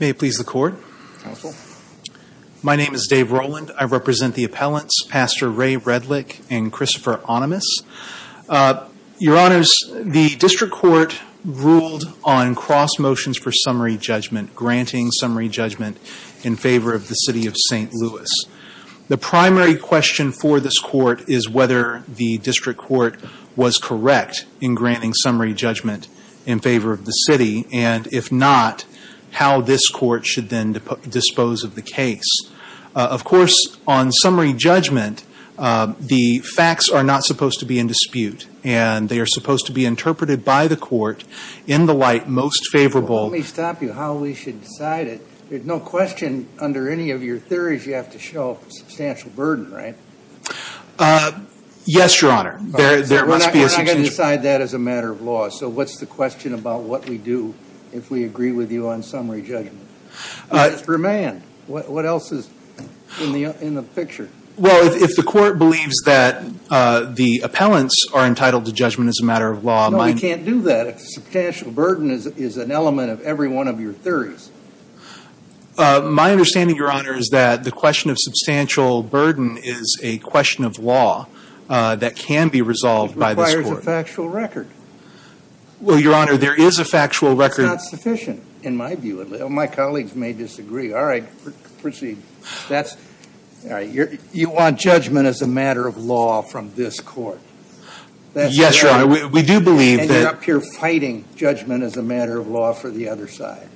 May it please the court. Counsel. My name is Dave Rowland. I represent the appellants, Pastor Ray Redlich, and Christopher Animas. Your honors, the district court ruled on cross motions for summary judgment, granting summary judgment in favor of the City of St. Louis. The primary question for this court is whether the district court was correct in granting summary judgment in favor of the city, and if not, how this court should then dispose of the case. Of course, on summary judgment, the facts are not supposed to be in dispute, and they are supposed to be interpreted by the court in the light most favorable. Let me stop you, how we should decide it. There's no question under any of your theories you have to show substantial burden, right? Yes, your honor. There must be. We're not going to decide that as a matter of law, so what's the question about what we do if we agree with you on summary judgment? It's remand. What else is in the picture? Well, if the court believes that the appellants are entitled to judgment as a matter of law, my No, we can't do that. Substantial burden is an element of every one of your theories. My understanding, your honor, is that the question of substantial burden is a question of law that can be resolved by this court. It requires a factual record. Well, your honor, there is a factual record It's not sufficient in my view. My colleagues may disagree. All right, proceed. You want judgment as a matter of law from this court? Yes, your honor. We do believe that And you're up here fighting judgment as a matter of law for the other side.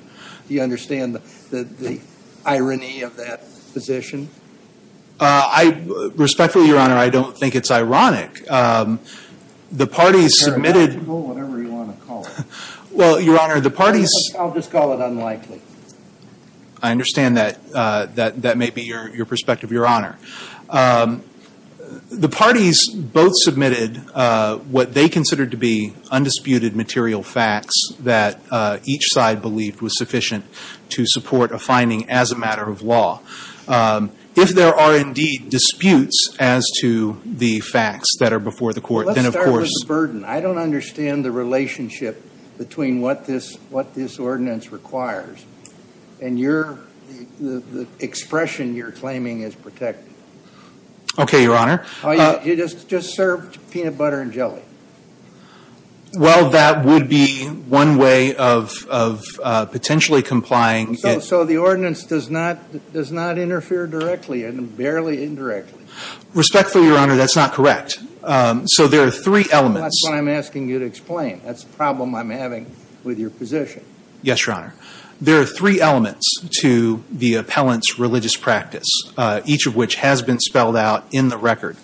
Do you understand the irony of that position? Respectfully, your honor, I don't think it's ironic. The parties submitted Whatever you want to call it. Well, your honor, the parties I'll just call it unlikely. I understand that that may be your perspective, your honor. The parties both submitted what they considered to be undisputed material facts that each side believed was sufficient to support a finding as a matter of law. If there are indeed disputes as to the facts that are before the court, then of course I don't understand the relationship between what this ordinance requires and the expression you're claiming is protected. Okay, your honor. You just served peanut butter and jelly. Well, that would be one way of potentially complying So the ordinance does not interfere directly and barely indirectly. Respectfully, your honor, that's not correct. So there are three elements. That's what I'm asking you to explain. That's the problem I'm having with your position. Yes, your honor. There are three elements to the appellant's religious practice, each of which has been spelled out in the record.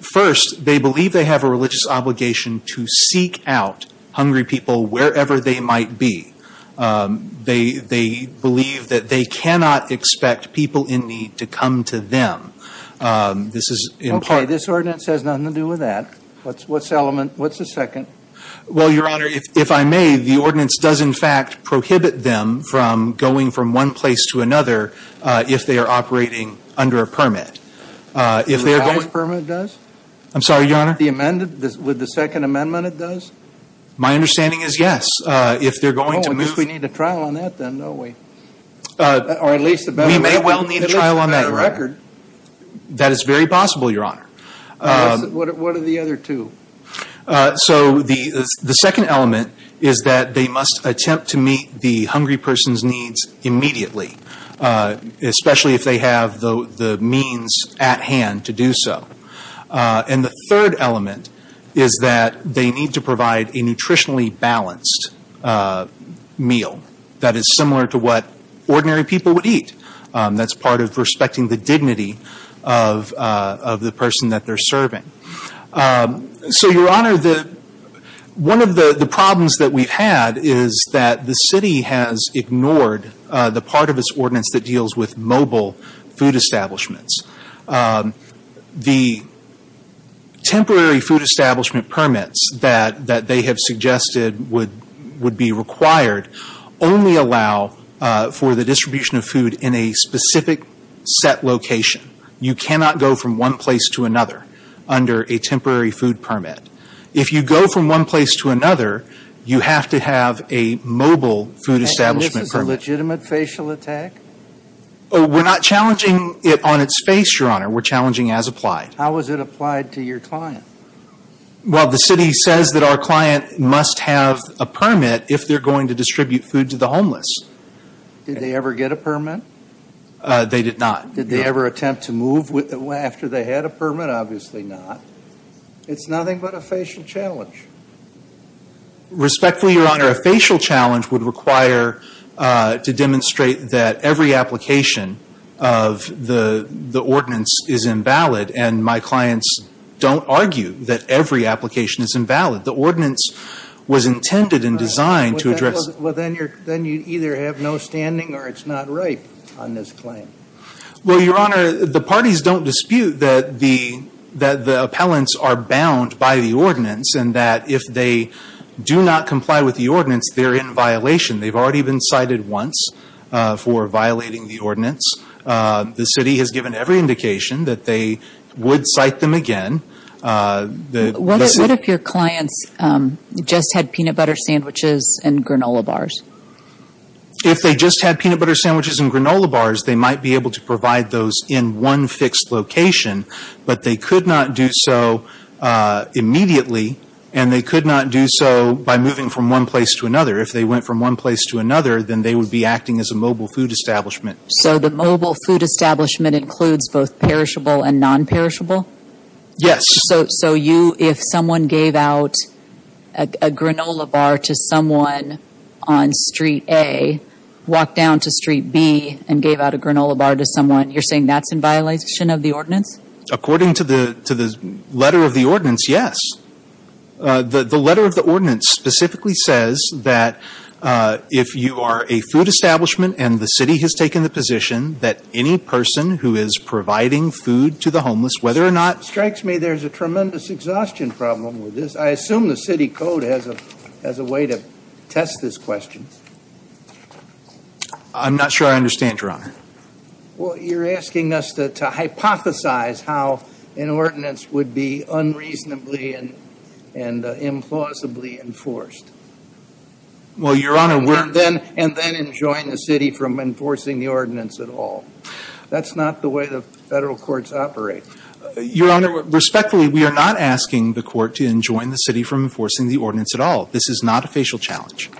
First, they believe they have a religious obligation to seek out hungry people wherever they might be. They believe that they cannot expect people in need to come to them. Okay, this ordinance has nothing to do with that. What's the second? Well, your honor, if I may, the ordinance does, in fact, prohibit them from going from one place to another if they are operating under a permit. With the second amendment it does? My understanding is yes. Oh, I guess we need a trial on that then, don't we? We may well need a trial on that record. That is very possible, your honor. What are the other two? So the second element is that they must attempt to meet the hungry person's needs immediately, especially if they have the means at hand to do so. And the third element is that they need to provide a nutritionally balanced meal that is similar to what ordinary people would eat. That's part of respecting the dignity of the person that they're serving. So, your honor, one of the problems that we've had is that the city has ignored the part of its ordinance that deals with mobile food establishments. The temporary food establishment permits that they have suggested would be required only allow for the distribution of food in a specific set location. You cannot go from one place to another under a temporary food permit. If you go from one place to another, you have to have a mobile food establishment permit. And this is a legitimate facial attack? We're not challenging it on its face, your honor. We're challenging as applied. How is it applied to your client? Well, the city says that our client must have a permit if they're going to distribute food to the homeless. Did they ever get a permit? They did not. Did they ever attempt to move after they had a permit? Obviously not. It's nothing but a facial challenge. Respectfully, your honor, a facial challenge would require to demonstrate that every application of the ordinance is invalid, and my clients don't argue that every application is invalid. The ordinance was intended and designed to address. Well, then you either have no standing or it's not right on this claim. Well, your honor, the parties don't dispute that the appellants are bound by the ordinance and that if they do not comply with the ordinance, they're in violation. They've already been cited once for violating the ordinance. The city has given every indication that they would cite them again. What if your clients just had peanut butter sandwiches and granola bars? If they just had peanut butter sandwiches and granola bars, they might be able to provide those in one fixed location, but they could not do so immediately, and they could not do so by moving from one place to another. If they went from one place to another, then they would be acting as a mobile food establishment. So the mobile food establishment includes both perishable and nonperishable? Yes. So you, if someone gave out a granola bar to someone on Street A, walked down to Street B and gave out a granola bar to someone, you're saying that's in violation of the ordinance? According to the letter of the ordinance, yes. The letter of the ordinance specifically says that if you are a food establishment and the city has taken the position that any person who is providing food to the homeless, whether or not it strikes me there's a tremendous exhaustion problem with this. I assume the city code has a way to test this question. I'm not sure I understand, Your Honor. Well, you're asking us to hypothesize how an ordinance would be unreasonably and implausibly enforced. Well, Your Honor, we're And then enjoin the city from enforcing the ordinance at all. That's not the way the federal courts operate. Your Honor, respectfully, we are not asking the court to enjoin the city from enforcing the ordinance at all. This is not a facial challenge.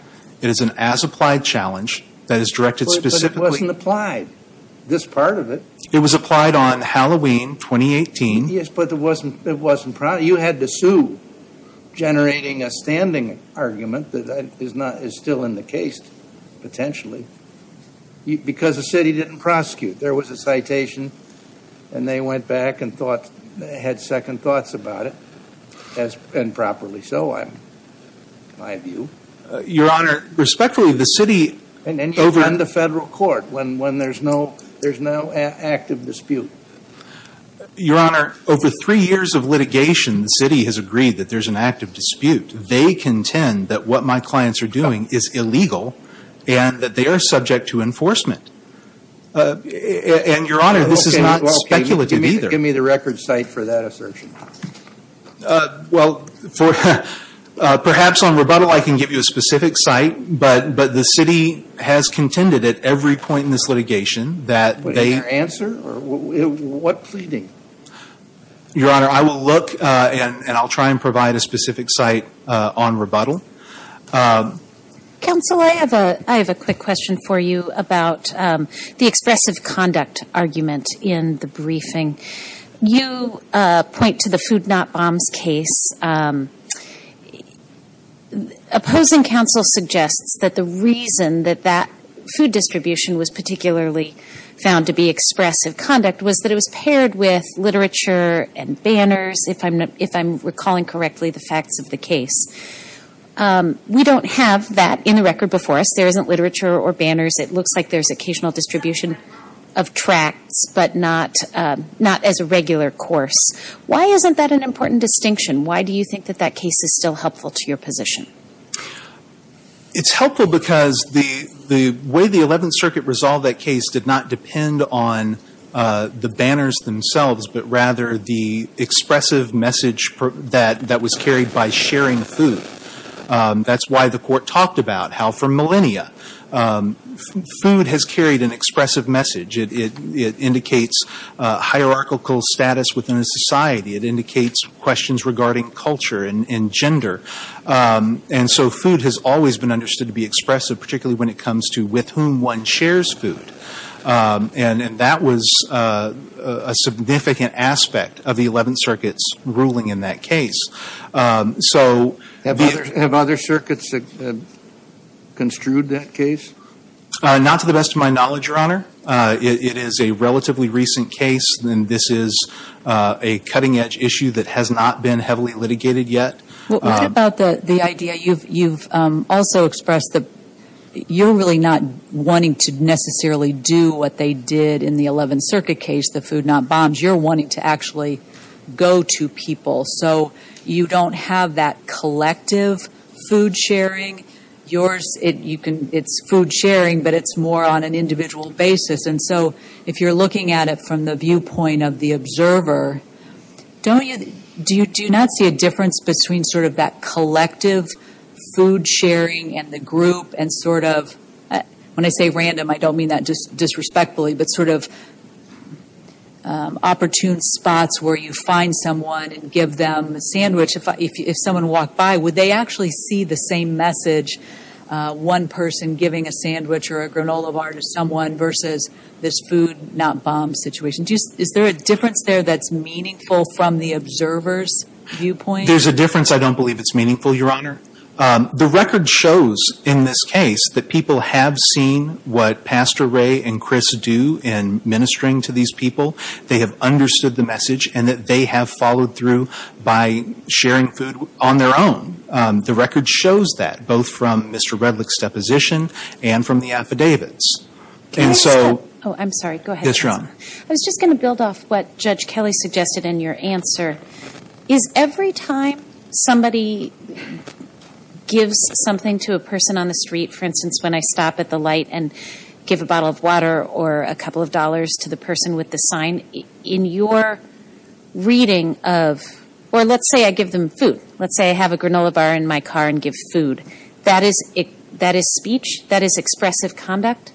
It is an as-applied challenge that is directed specifically But it wasn't applied, this part of it. It was applied on Halloween, 2018. Yes, but it wasn't, you had to sue, generating a standing argument that is still in the case, potentially, because the city didn't prosecute. There was a citation, and they went back and had second thoughts about it, and properly so, in my view. Your Honor, respectfully, the city And enjoin the federal court when there's no active dispute. Your Honor, over three years of litigation, the city has agreed that there's an active dispute. They contend that what my clients are doing is illegal and that they are subject to enforcement. And, Your Honor, this is not speculative either. Give me the record site for that assertion. Well, perhaps on rebuttal I can give you a specific site, but the city has contended at every point in this litigation that they What is your answer? What pleading? Your Honor, I will look, and I'll try and provide a specific site on rebuttal. Counsel, I have a quick question for you about the expressive conduct argument in the briefing. You point to the Food Not Bombs case. Opposing counsel suggests that the reason that that food distribution was particularly found to be expressive conduct was that it was paired with literature and banners, if I'm recalling correctly, the facts of the case. We don't have that in the record before us. There isn't literature or banners. It looks like there's occasional distribution of tracts, but not as a regular course. Why isn't that an important distinction? Why do you think that that case is still helpful to your position? It's helpful because the way the Eleventh Circuit resolved that case did not depend on the banners themselves, but rather the expressive message that was carried by sharing food. That's why the court talked about how for millennia food has carried an expressive message. It indicates hierarchical status within a society. It indicates questions regarding culture and gender. And so food has always been understood to be expressive, particularly when it comes to with whom one shares food. And that was a significant aspect of the Eleventh Circuit's ruling in that case. Have other circuits construed that case? Not to the best of my knowledge, Your Honor. It is a relatively recent case, and this is a cutting-edge issue that has not been heavily litigated yet. What about the idea you've also expressed that you're really not wanting to necessarily do what they did in the Eleventh Circuit case, the food not bombs. You're wanting to actually go to people. So you don't have that collective food sharing. It's food sharing, but it's more on an individual basis. And so if you're looking at it from the viewpoint of the observer, do you not see a difference between sort of that collective food sharing and the group and sort of, when I say random, I don't mean that disrespectfully, but sort of opportune spots where you find someone and give them a sandwich. If someone walked by, would they actually see the same message, one person giving a sandwich or a granola bar to someone versus this food not bomb situation? Is there a difference there that's meaningful from the observer's viewpoint? There's a difference. I don't believe it's meaningful, Your Honor. The record shows in this case that people have seen what Pastor Ray and Chris do in ministering to these people. They have understood the message and that they have followed through by sharing food on their own. The record shows that, both from Mr. Redlich's deposition and from the affidavits. Can I stop? Oh, I'm sorry. Go ahead. Yes, Your Honor. I was just going to build off what Judge Kelly suggested in your answer. Is every time somebody gives something to a person on the street, for instance, when I stop at the light and give a bottle of water or a couple of dollars to the person with the sign, in your reading of, or let's say I give them food. Let's say I have a granola bar in my car and give food. That is speech? That is expressive conduct?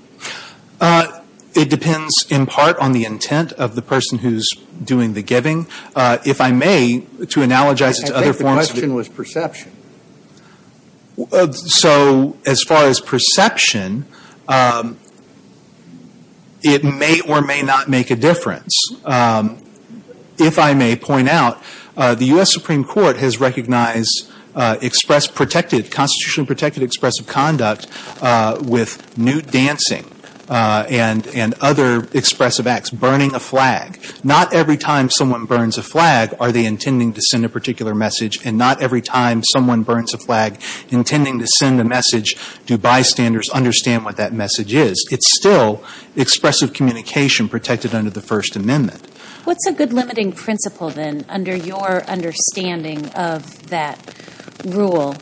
It depends in part on the intent of the person who's doing the giving. If I may, to analogize it to other forms. I think the question was perception. So as far as perception, it may or may not make a difference. If I may point out, the U.S. Supreme Court has recognized express protected, constitutionally protected expressive conduct with nude dancing and other expressive acts, burning a flag. Not every time someone burns a flag are they intending to send a particular message, and not every time someone burns a flag intending to send a message do bystanders understand what that message is. It's still expressive communication protected under the First Amendment. What's a good limiting principle then under your understanding of that rule?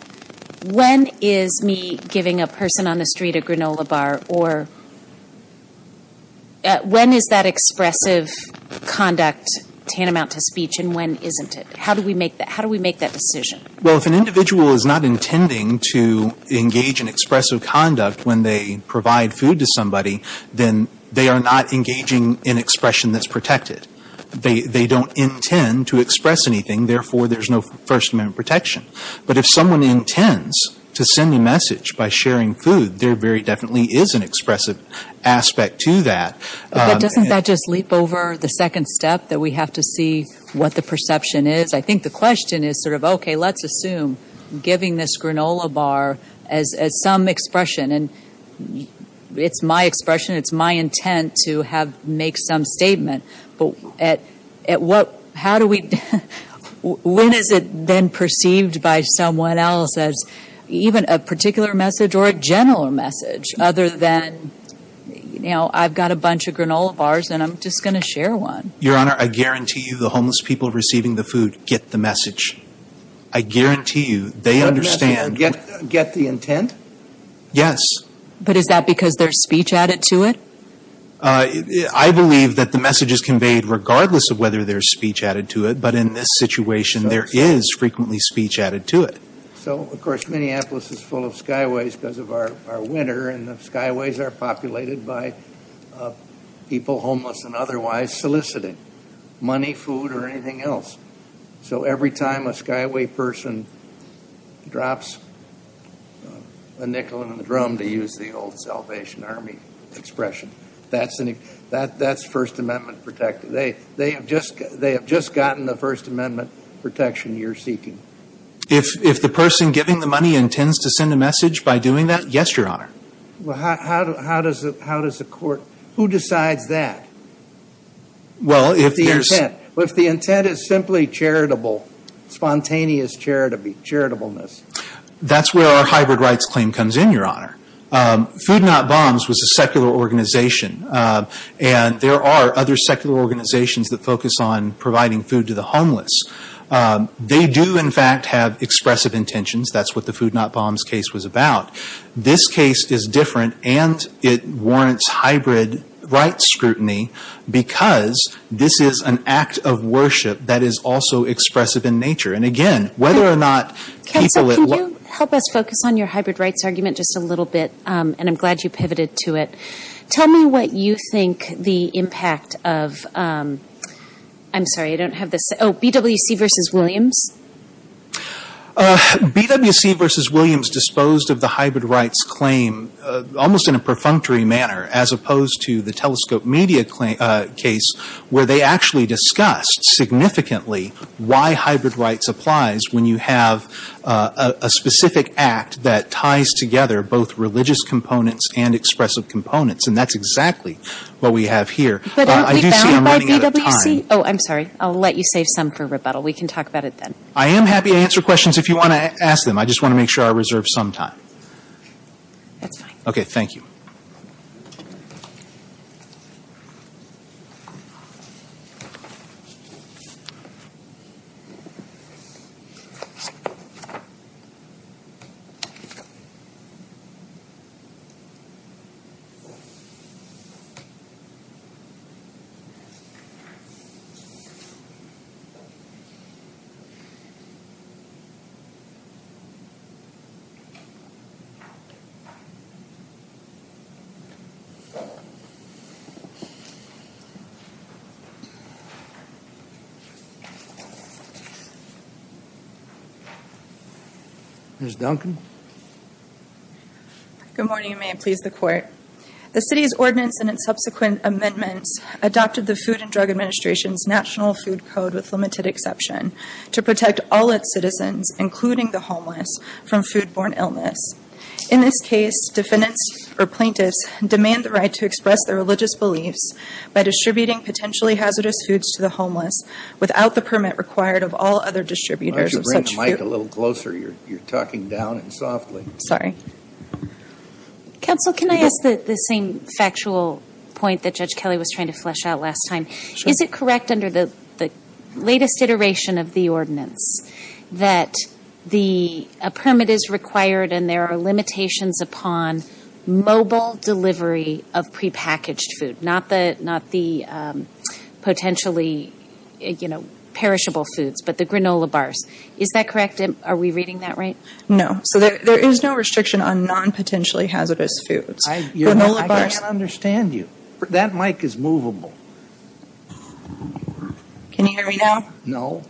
When is me giving a person on the street a granola bar or when is that expressive conduct tantamount to speech and when isn't it? How do we make that decision? Well, if an individual is not intending to engage in expressive conduct when they provide food to somebody, then they are not engaging in expression that's protected. They don't intend to express anything, therefore there's no First Amendment protection. But if someone intends to send a message by sharing food, there very definitely is an expressive aspect to that. But doesn't that just leap over the second step that we have to see what the perception is? I think the question is sort of, okay, let's assume giving this granola bar as some expression, and it's my expression, it's my intent to make some statement, but when is it then perceived by someone else as even a particular message or a general message other than, you know, I've got a bunch of granola bars and I'm just going to share one. Your Honor, I guarantee you the homeless people receiving the food get the message. I guarantee you they understand. Get the intent? Yes. But is that because there's speech added to it? I believe that the message is conveyed regardless of whether there's speech added to it, but in this situation there is frequently speech added to it. So, of course, Minneapolis is full of skyways because of our winter, and the skyways are populated by people homeless and otherwise soliciting money, food, or anything else. So every time a skyway person drops a nickel in the drum, to use the old Salvation Army expression, that's First Amendment protection. They have just gotten the First Amendment protection you're seeking. If the person giving the money intends to send a message by doing that, yes, Your Honor. Well, how does the court – who decides that? Well, if there's – Well, if the intent is simply charitable, spontaneous charitableness. That's where our hybrid rights claim comes in, Your Honor. Food Not Bombs was a secular organization, and there are other secular organizations that focus on providing food to the homeless. They do, in fact, have expressive intentions. That's what the Food Not Bombs case was about. This case is different, and it warrants hybrid rights scrutiny because this is an act of worship that is also expressive in nature. And, again, whether or not people – Can you help us focus on your hybrid rights argument just a little bit? And I'm glad you pivoted to it. Tell me what you think the impact of – I'm sorry. I don't have the – oh, BWC versus Williams? BWC versus Williams disposed of the hybrid rights claim almost in a perfunctory manner as opposed to the Telescope Media case where they actually discussed significantly why hybrid rights applies when you have a specific act that ties together both religious components and expressive components, and that's exactly what we have here. But aren't we bound by BWC? I do see I'm running out of time. Oh, I'm sorry. I'll let you save some for rebuttal. We can talk about it then. I am happy to answer questions if you want to ask them. I just want to make sure I reserve some time. That's fine. Okay, thank you. Ms. Duncan? Good morning, and may it please the Court. The city's ordinance and its subsequent amendments adopted the Food and Drug Administration's National Food Code with limited exception to protect all its citizens, including the homeless, from foodborne illness. In this case, defendants or plaintiffs demand the right to express their religious beliefs by distributing potentially hazardous foods to the homeless without the permit required of all other distributors of such food. Why don't you bring the mic a little closer? You're talking down and softly. Sorry. Counsel, can I ask the same factual point that Judge Kelly was trying to flesh out last time? Sure. Is it correct under the latest iteration of the ordinance that a permit is required and there are limitations upon mobile delivery of prepackaged food, not the potentially perishable foods, but the granola bars? Is that correct? Are we reading that right? No. So there is no restriction on non-potentially hazardous foods. I can't understand you. That mic is movable. Can you hear me now? No.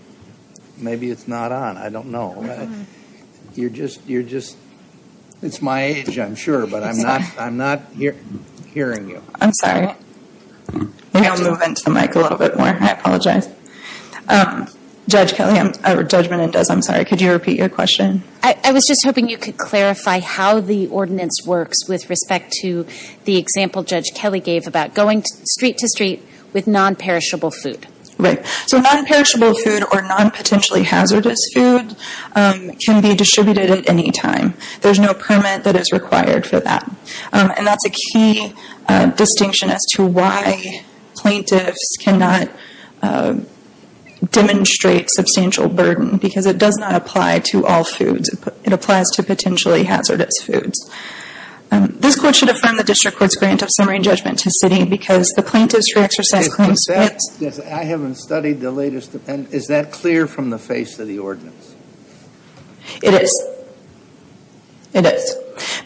Maybe it's not on. I don't know. You're just my age, I'm sure, but I'm not hearing you. I'm sorry. Maybe I'll move into the mic a little bit more. I apologize. Judge Kelly, I'm sorry, could you repeat your question? I was just hoping you could clarify how the ordinance works with respect to the example Judge Kelly gave about going street to street with non-perishable food. Right. So non-perishable food or non-potentially hazardous food can be distributed at any time. There's no permit that is required for that, and that's a key distinction as to why plaintiffs cannot demonstrate substantial burden because it does not apply to all foods. It applies to potentially hazardous foods. This Court should affirm the District Court's grant of summary and judgment to city because the Plaintiff's Free Exercise Claim splits. I haven't studied the latest. Is that clear from the face of the ordinance? It is. It is.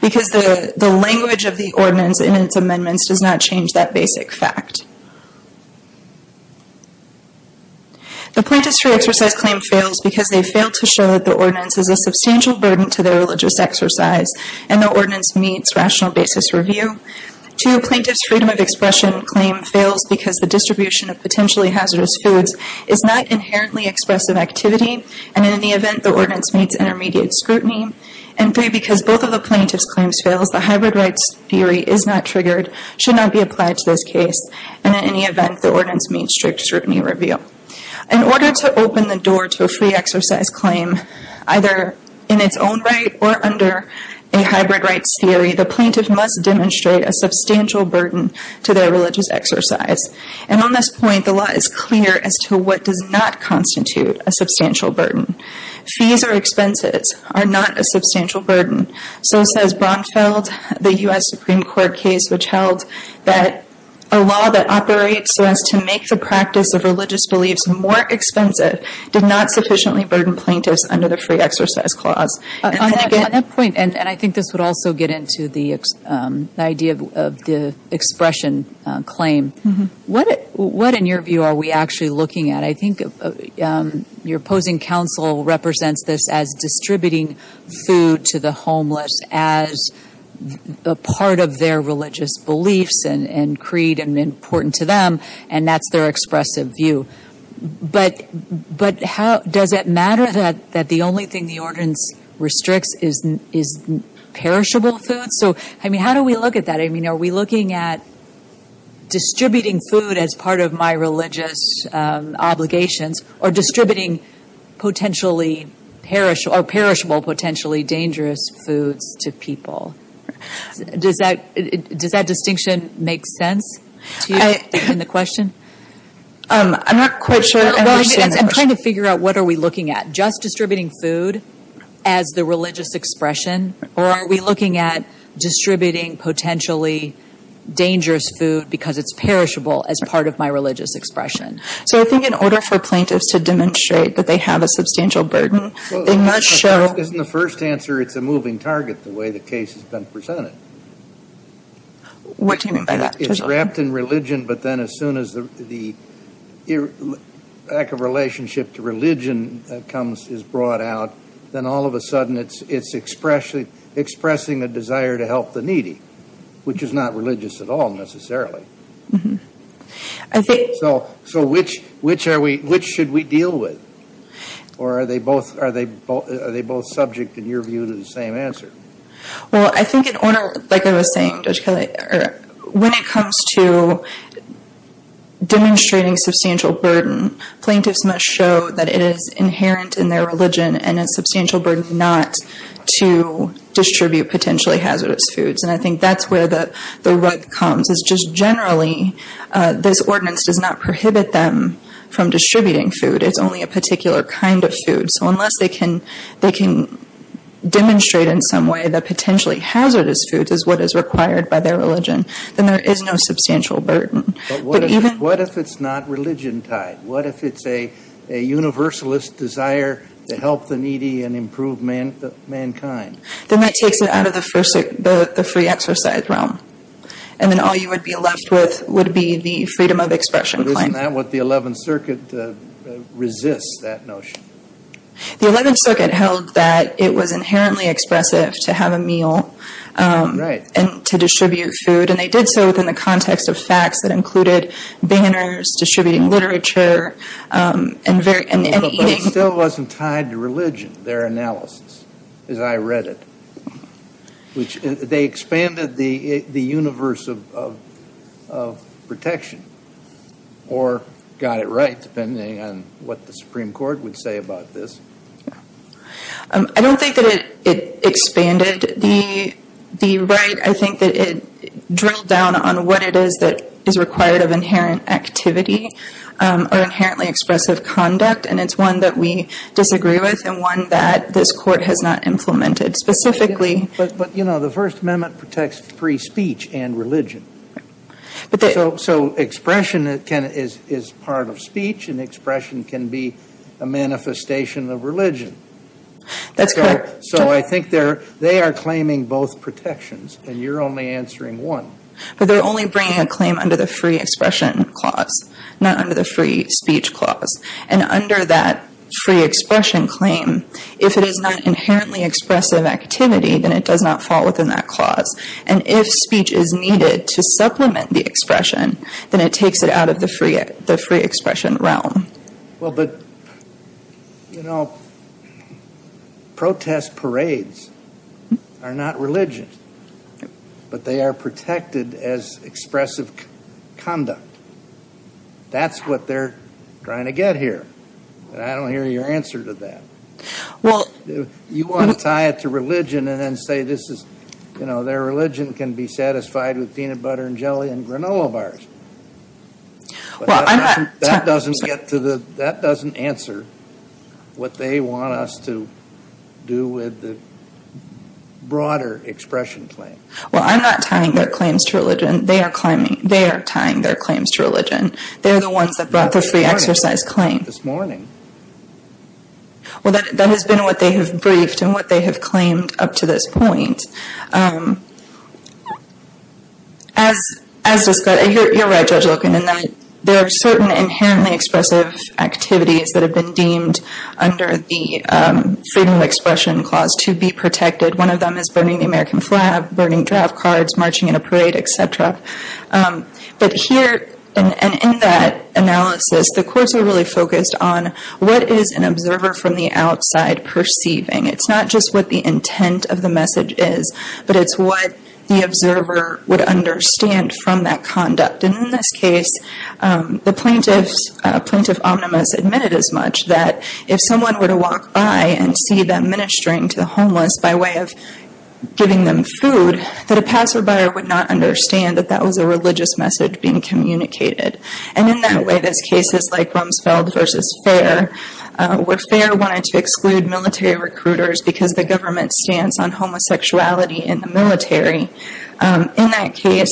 Because the language of the ordinance in its amendments does not change that basic fact. The Plaintiff's Free Exercise Claim fails because they fail to show that the ordinance is a substantial burden to their religious exercise and the ordinance meets rational basis review. Two, Plaintiff's Freedom of Expression Claim fails because the distribution of potentially hazardous foods is not inherently expressive activity, and in any event, the ordinance meets intermediate scrutiny. And three, because both of the Plaintiff's Claims fails, the hybrid rights theory is not triggered, should not be applied to this case. And in any event, the ordinance meets strict scrutiny review. In order to open the door to a free exercise claim, either in its own right or under a hybrid rights theory, the Plaintiff must demonstrate a substantial burden to their religious exercise. And on this point, the law is clear as to what does not constitute a substantial burden. Fees or expenses are not a substantial burden. So says Bronfeld, the U.S. Supreme Court case, which held that a law that operates so as to make the practice of religious beliefs more expensive did not sufficiently burden plaintiffs under the free exercise clause. On that point, and I think this would also get into the idea of the expression claim, what in your view are we actually looking at? I think your opposing counsel represents this as distributing food to the homeless as a part of their religious beliefs and creed and important to them, and that's their expressive view. But does it matter that the only thing the ordinance restricts is perishable food? So, I mean, how do we look at that? I mean, are we looking at distributing food as part of my religious obligations or distributing potentially perishable or perishable potentially dangerous foods to people? Does that distinction make sense to you in the question? I'm not quite sure. I'm trying to figure out what are we looking at. Just distributing food as the religious expression or are we looking at distributing potentially dangerous food because it's perishable as part of my religious expression? So I think in order for plaintiffs to demonstrate that they have a substantial burden, they must show. Isn't the first answer it's a moving target the way the case has been presented? What do you mean by that? It's wrapped in religion, but then as soon as the lack of relationship to religion is brought out, then all of a sudden it's expressing a desire to help the needy, which is not religious at all necessarily. So which should we deal with? Or are they both subject, in your view, to the same answer? Well, I think in order, like I was saying, Judge Kelly, when it comes to demonstrating substantial burden, plaintiffs must show that it is inherent in their religion and a substantial burden not to distribute potentially hazardous foods. And I think that's where the rub comes is just generally this ordinance does not prohibit them from distributing food. It's only a particular kind of food. So unless they can demonstrate in some way that potentially hazardous foods is what is required by their religion, then there is no substantial burden. But what if it's not religion tied? What if it's a universalist desire to help the needy and improve mankind? Then that takes it out of the free exercise realm. And then all you would be left with would be the freedom of expression claim. But isn't that what the Eleventh Circuit resists, that notion? The Eleventh Circuit held that it was inherently expressive to have a meal and to distribute food. And they did so within the context of facts that included banners, distributing literature, and eating. But it still wasn't tied to religion, their analysis, as I read it. They expanded the universe of protection or got it right, depending on what the Supreme Court would say about this. I don't think that it expanded the right. I think that it drilled down on what it is that is required of inherent activity or inherently expressive conduct. And it's one that we disagree with and one that this Court has not implemented specifically. But, you know, the First Amendment protects free speech and religion. So expression is part of speech, and expression can be a manifestation of religion. That's correct. So I think they are claiming both protections, and you're only answering one. But they're only bringing a claim under the free expression clause, not under the free speech clause. And under that free expression claim, if it is not inherently expressive activity, then it does not fall within that clause. And if speech is needed to supplement the expression, then it takes it out of the free expression realm. Well, but, you know, protest parades are not religion. But they are protected as expressive conduct. That's what they're trying to get here. And I don't hear your answer to that. Well, You want to tie it to religion and then say this is, you know, their religion can be satisfied with peanut butter and jelly and granola bars. Well, I'm not That doesn't answer what they want us to do with the broader expression claim. Well, I'm not tying their claims to religion. They are tying their claims to religion. They're the ones that brought the free exercise claim. This morning. Well, that has been what they have briefed and what they have claimed up to this point. As discussed, you're right, Judge Loken, and that there are certain inherently expressive activities that have been deemed under the freedom of expression clause to be protected. One of them is burning the American flag, burning draft cards, marching in a parade, etc. But here, and in that analysis, the courts are really focused on what is an observer from the outside perceiving. It's not just what the intent of the message is. But it's what the observer would understand from that conduct. And in this case, the plaintiffs, plaintiff omnibus, admitted as much that if someone were to walk by and see them ministering to the homeless by way of giving them food, that a passerby would not understand that that was a religious message being communicated. And in that way, there's cases like Rumsfeld v. Fair, where Fair wanted to exclude military recruiters because of the government's stance on homosexuality in the military. In that case,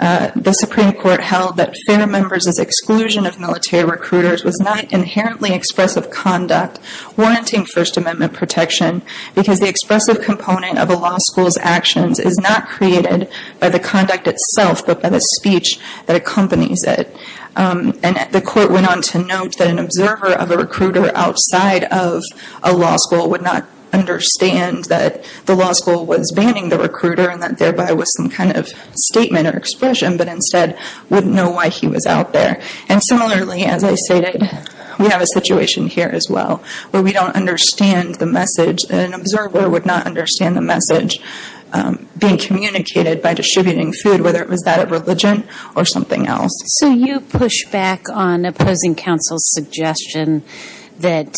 the Supreme Court held that Fair members' exclusion of military recruiters was not inherently expressive conduct warranting First Amendment protection because the expressive component of a law school's actions is not created by the conduct itself but by the speech that accompanies it. And the court went on to note that an observer of a recruiter outside of a law school would not understand that the law school was banning the recruiter and that thereby was some kind of statement or expression, but instead wouldn't know why he was out there. And similarly, as I stated, we have a situation here as well where we don't understand the message. An observer would not understand the message being communicated by distributing food, whether it was that of religion or something else. So you push back on opposing counsel's suggestion that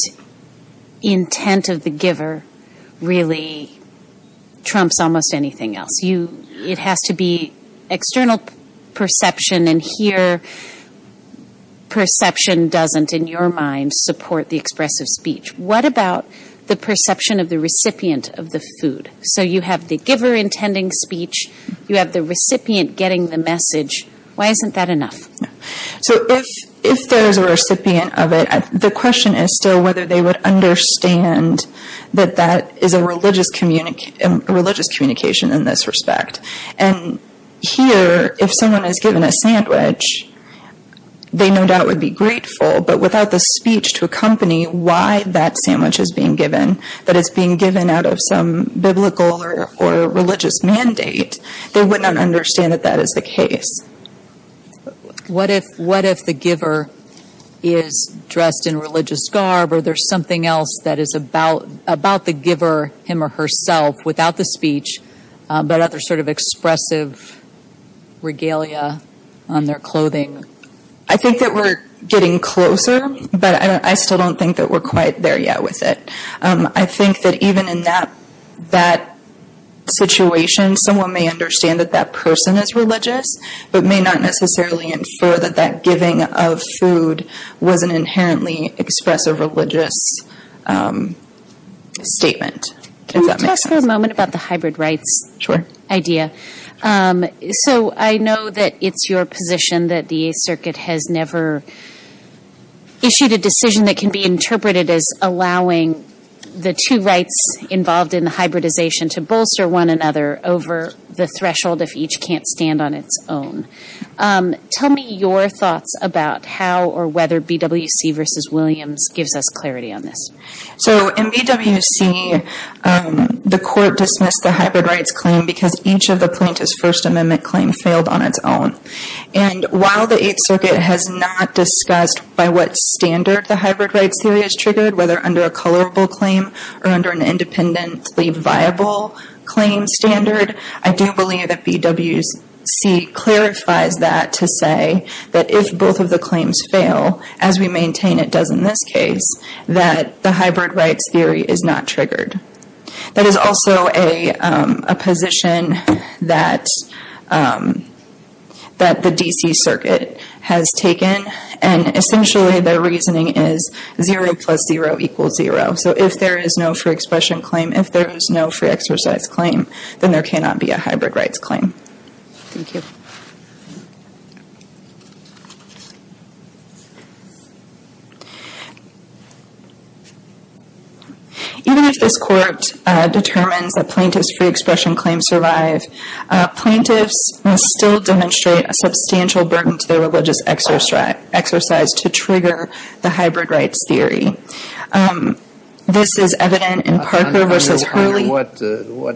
intent of the giver really trumps almost anything else. It has to be external perception, and here perception doesn't, in your mind, support the expressive speech. What about the perception of the recipient of the food? So you have the giver intending speech. You have the recipient getting the message. Why isn't that enough? So if there is a recipient of it, the question is still whether they would understand that that is a religious communication in this respect. And here, if someone is given a sandwich, they no doubt would be grateful, but without the speech to accompany why that sandwich is being given, that it's being given out of some biblical or religious mandate, they would not understand that that is the case. What if the giver is dressed in religious garb or there's something else that is about the giver, him or herself, without the speech, but other sort of expressive regalia on their clothing? I think that we're getting closer, but I still don't think that we're quite there yet with it. I think that even in that situation, someone may understand that that person is religious, but may not necessarily infer that that giving of food was an inherently expressive religious statement, if that makes sense. Can we talk for a moment about the hybrid rights idea? Sure. So I know that it's your position that the 8th Circuit has never issued a decision that can be interpreted as allowing the two rights involved in the hybridization to bolster one another over the threshold if each can't stand on its own. Tell me your thoughts about how or whether BWC v. Williams gives us clarity on this. So in BWC, the court dismissed the hybrid rights claim because each of the plaintiff's First Amendment claims failed on its own. And while the 8th Circuit has not discussed by what standard the hybrid rights theory is triggered, whether under a colorable claim or under an independently viable claim standard, I do believe that BWC clarifies that to say that if both of the claims fail, as we maintain it does in this case, that the hybrid rights theory is not triggered. That is also a position that the D.C. Circuit has taken, and essentially the reasoning is 0 plus 0 equals 0. So if there is no free expression claim, if there is no free exercise claim, then there cannot be a hybrid rights claim. Thank you. Even if this Court determines that plaintiff's free expression claims survive, plaintiffs must still demonstrate a substantial burden to their religious exercise to trigger the hybrid rights theory. This is evident in Parker v. Hurley. What are they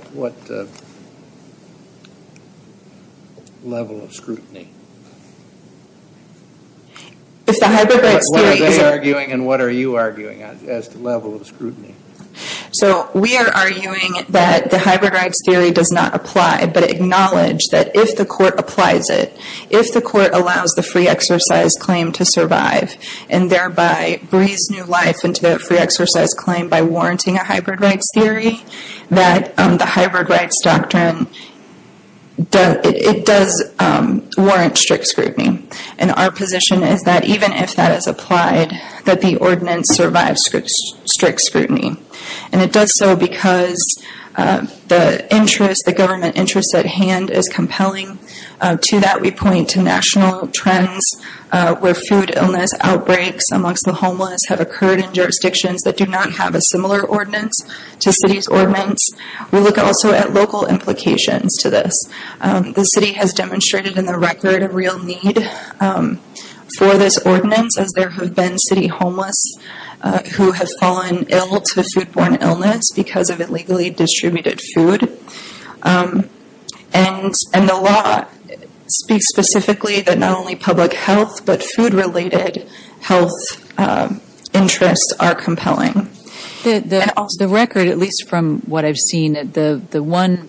arguing and what are you arguing as to the level of scrutiny? So we are arguing that the hybrid rights theory does not apply, but acknowledge that if the Court applies it, if the Court allows the free exercise claim to survive and thereby breathe new life into the free exercise claim by warranting a hybrid rights theory, that the hybrid rights doctrine does warrant strict scrutiny. And our position is that even if that is applied, that the ordinance survives strict scrutiny. And it does so because the interest, the government interest at hand is compelling. To that we point to national trends where food illness outbreaks amongst the homeless have occurred in jurisdictions that do not have a similar ordinance to city's ordinance. We look also at local implications to this. The city has demonstrated in the record a real need for this ordinance, as there have been city homeless who have fallen ill to foodborne illness because of illegally distributed food. And the law speaks specifically that not only public health, but food-related health interests are compelling. The record, at least from what I've seen, the one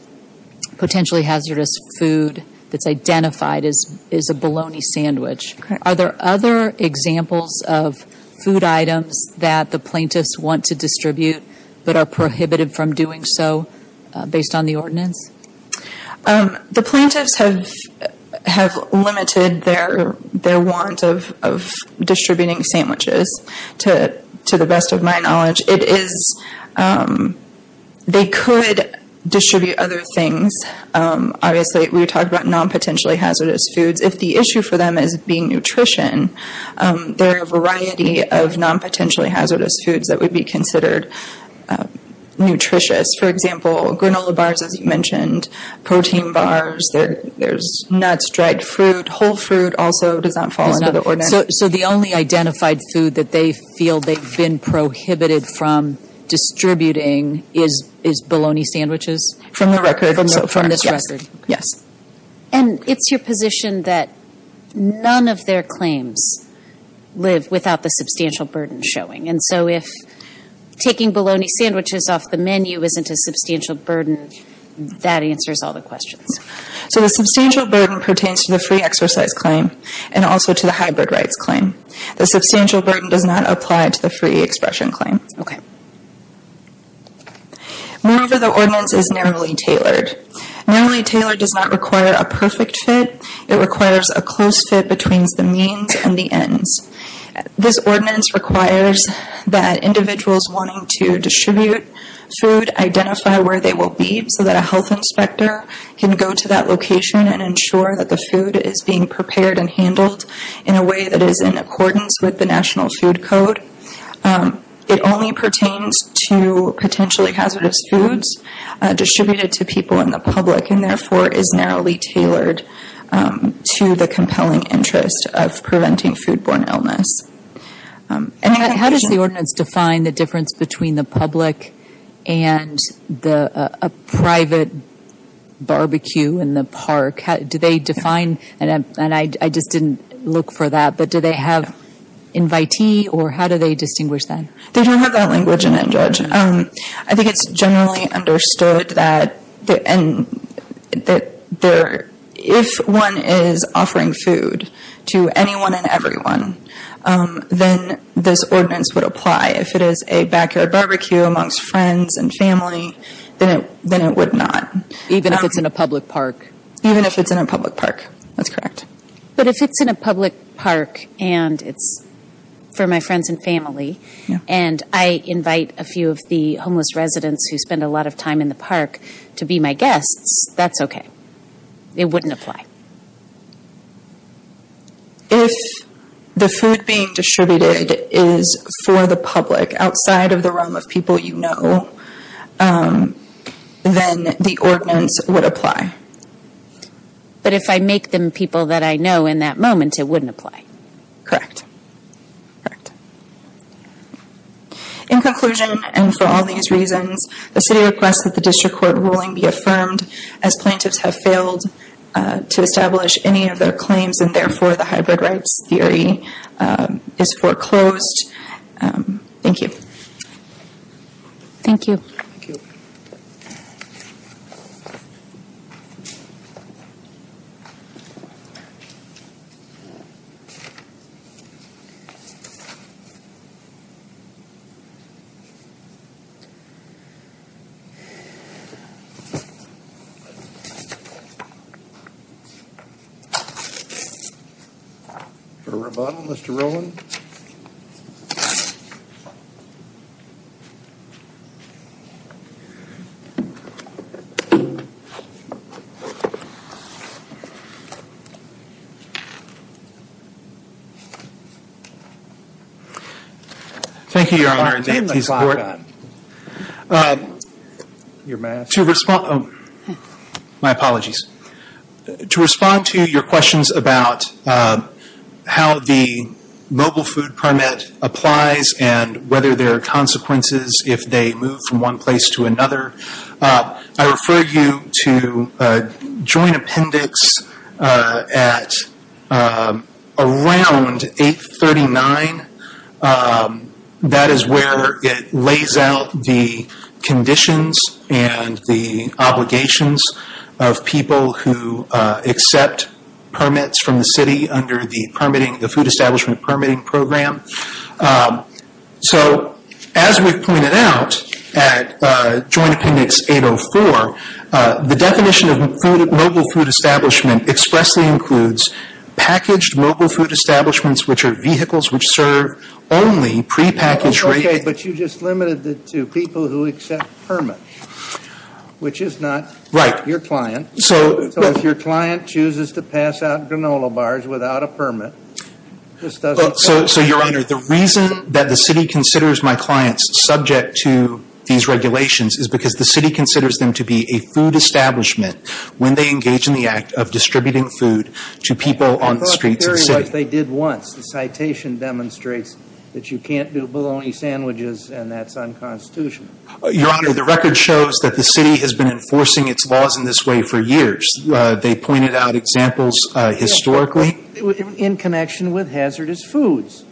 potentially hazardous food that's identified is a bologna sandwich. Are there other examples of food items that the plaintiffs want to distribute but are prohibited from doing so based on the ordinance? The plaintiffs have limited their want of distributing sandwiches, to the best of my knowledge. It is, they could distribute other things. Obviously, we talked about non-potentially hazardous foods. If the issue for them is being nutrition, there are a variety of non-potentially hazardous foods that would be considered nutritious. For example, granola bars, as you mentioned, protein bars. There's nuts, dried fruit, whole fruit also does not fall under the ordinance. So the only identified food that they feel they've been prohibited from distributing is bologna sandwiches? From the record, yes. And it's your position that none of their claims live without the substantial burden showing. And so if taking bologna sandwiches off the menu isn't a substantial burden, that answers all the questions. So the substantial burden pertains to the free exercise claim and also to the hybrid rights claim. The substantial burden does not apply to the free expression claim. Okay. Moreover, the ordinance is narrowly tailored. Narrowly tailored does not require a perfect fit. It requires a close fit between the means and the ends. This ordinance requires that individuals wanting to distribute food identify where they will be, so that a health inspector can go to that location and ensure that the food is being prepared and handled in a way that is in accordance with the National Food Code. It only pertains to potentially hazardous foods distributed to people in the public and therefore is narrowly tailored to the compelling interest of preventing foodborne illness. How does the ordinance define the difference between the public and a private barbecue in the park? Do they define, and I just didn't look for that, but do they have invitee or how do they distinguish them? They don't have that language in it, Judge. I think it's generally understood that if one is offering food to anyone and everyone, then this ordinance would apply. If it is a backyard barbecue amongst friends and family, then it would not. Even if it's in a public park? Even if it's in a public park, that's correct. But if it's in a public park and it's for my friends and family, and I invite a few of the homeless residents who spend a lot of time in the park to be my guests, that's okay. It wouldn't apply. If the food being distributed is for the public outside of the realm of people you know, then the ordinance would apply. But if I make them people that I know in that moment, it wouldn't apply? Correct. In conclusion, and for all these reasons, the City requests that the District Court ruling be affirmed as plaintiffs have failed to establish any of their claims, and therefore the hybrid rights theory is foreclosed. Thank you. Thank you. Thank you. Thank you. Thank you, Your Honor. Your mask. My apologies. To respond to your questions about how the mobile food permit applies and whether there are consequences if they move from one place to another, I refer you to a joint appendix at around 839. That is where it lays out the conditions and the obligations of people who accept permits from the City under the Food Establishment Permitting Program. So as we've pointed out at Joint Appendix 804, the definition of mobile food establishment expressly includes packaged mobile food establishments, which are vehicles which serve only prepackaged rates. Okay, but you just limited it to people who accept permits, which is not your client. So if your client chooses to pass out granola bars without a permit, this doesn't apply. So, Your Honor, the reason that the City considers my clients subject to these regulations is because the City considers them to be a food establishment when they engage in the act of distributing food to people on the streets of the city. I thought the theory was they did once. The citation demonstrates that you can't do bologna sandwiches, and that's unconstitutional. Your Honor, the record shows that the City has been enforcing its laws in this way for years. They pointed out examples historically. In connection with hazardous foods.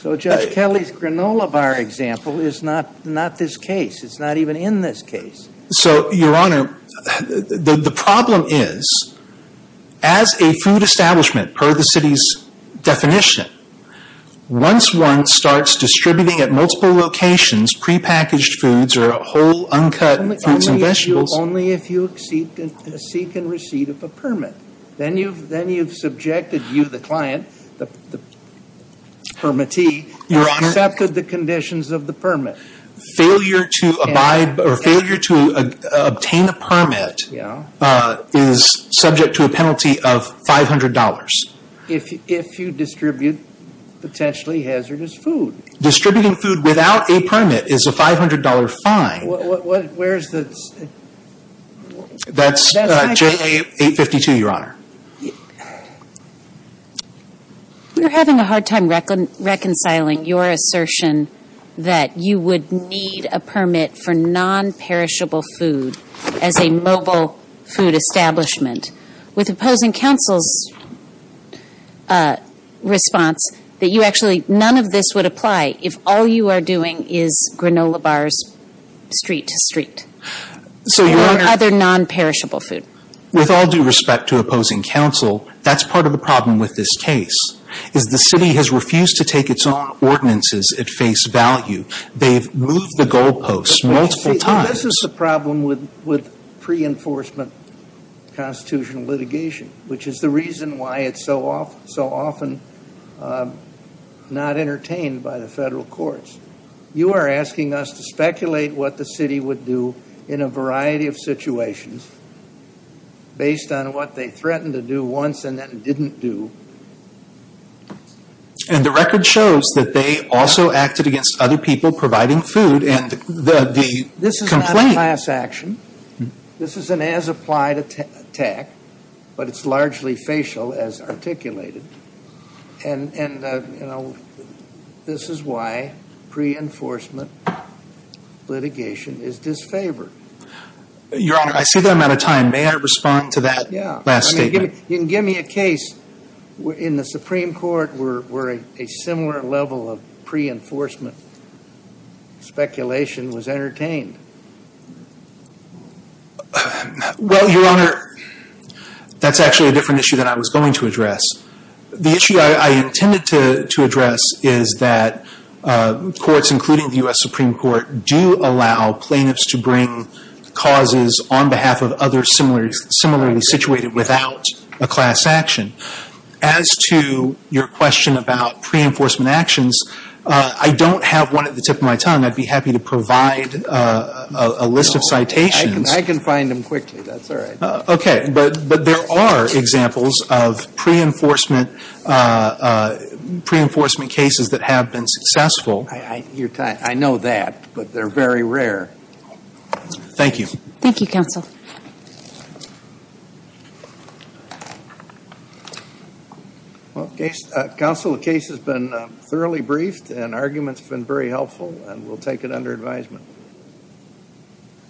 So Judge Kelly's granola bar example is not this case. It's not even in this case. So, Your Honor, the problem is, as a food establishment per the City's definition, once one starts distributing at multiple locations prepackaged foods or whole, uncut foods and vegetables Only if you seek and receive a permit. Then you've subjected you, the client, the permittee, and accepted the conditions of the permit. Failure to obtain a permit is subject to a penalty of $500. If you distribute potentially hazardous food. Distributing food without a permit is a $500 fine. Where's the... That's JLA 852, Your Honor. You're having a hard time reconciling your assertion that you would need a permit for non-perishable food as a mobile food establishment. With opposing counsel's response that you actually, none of this would apply if all you are doing is granola bars street to street. Or other non-perishable food. With all due respect to opposing counsel, that's part of the problem with this case. Is the City has refused to take its own ordinances at face value. They've moved the goalposts multiple times. This is the problem with pre-enforcement constitutional litigation. Which is the reason why it's so often not entertained by the federal courts. You are asking us to speculate what the City would do in a variety of situations. Based on what they threatened to do once and then didn't do. And the record shows that they also acted against other people providing food. And the complaint... This is not a class action. This is an as-applied attack. But it's largely facial as articulated. And, you know, this is why pre-enforcement litigation is disfavored. Your Honor, I see the amount of time. May I respond to that last statement? You can give me a case in the Supreme Court where a similar level of pre-enforcement speculation was entertained. Well, Your Honor, that's actually a different issue that I was going to address. The issue I intended to address is that courts, including the U.S. Supreme Court, do allow plaintiffs to bring causes on behalf of others similarly situated without a class action. As to your question about pre-enforcement actions, I don't have one at the tip of my tongue. And I'd be happy to provide a list of citations. I can find them quickly. That's all right. Okay. But there are examples of pre-enforcement cases that have been successful. I know that. But they're very rare. Thank you. Thank you, counsel. Counsel? Counsel, the case has been thoroughly briefed and arguments have been very helpful. And we'll take it under advisement.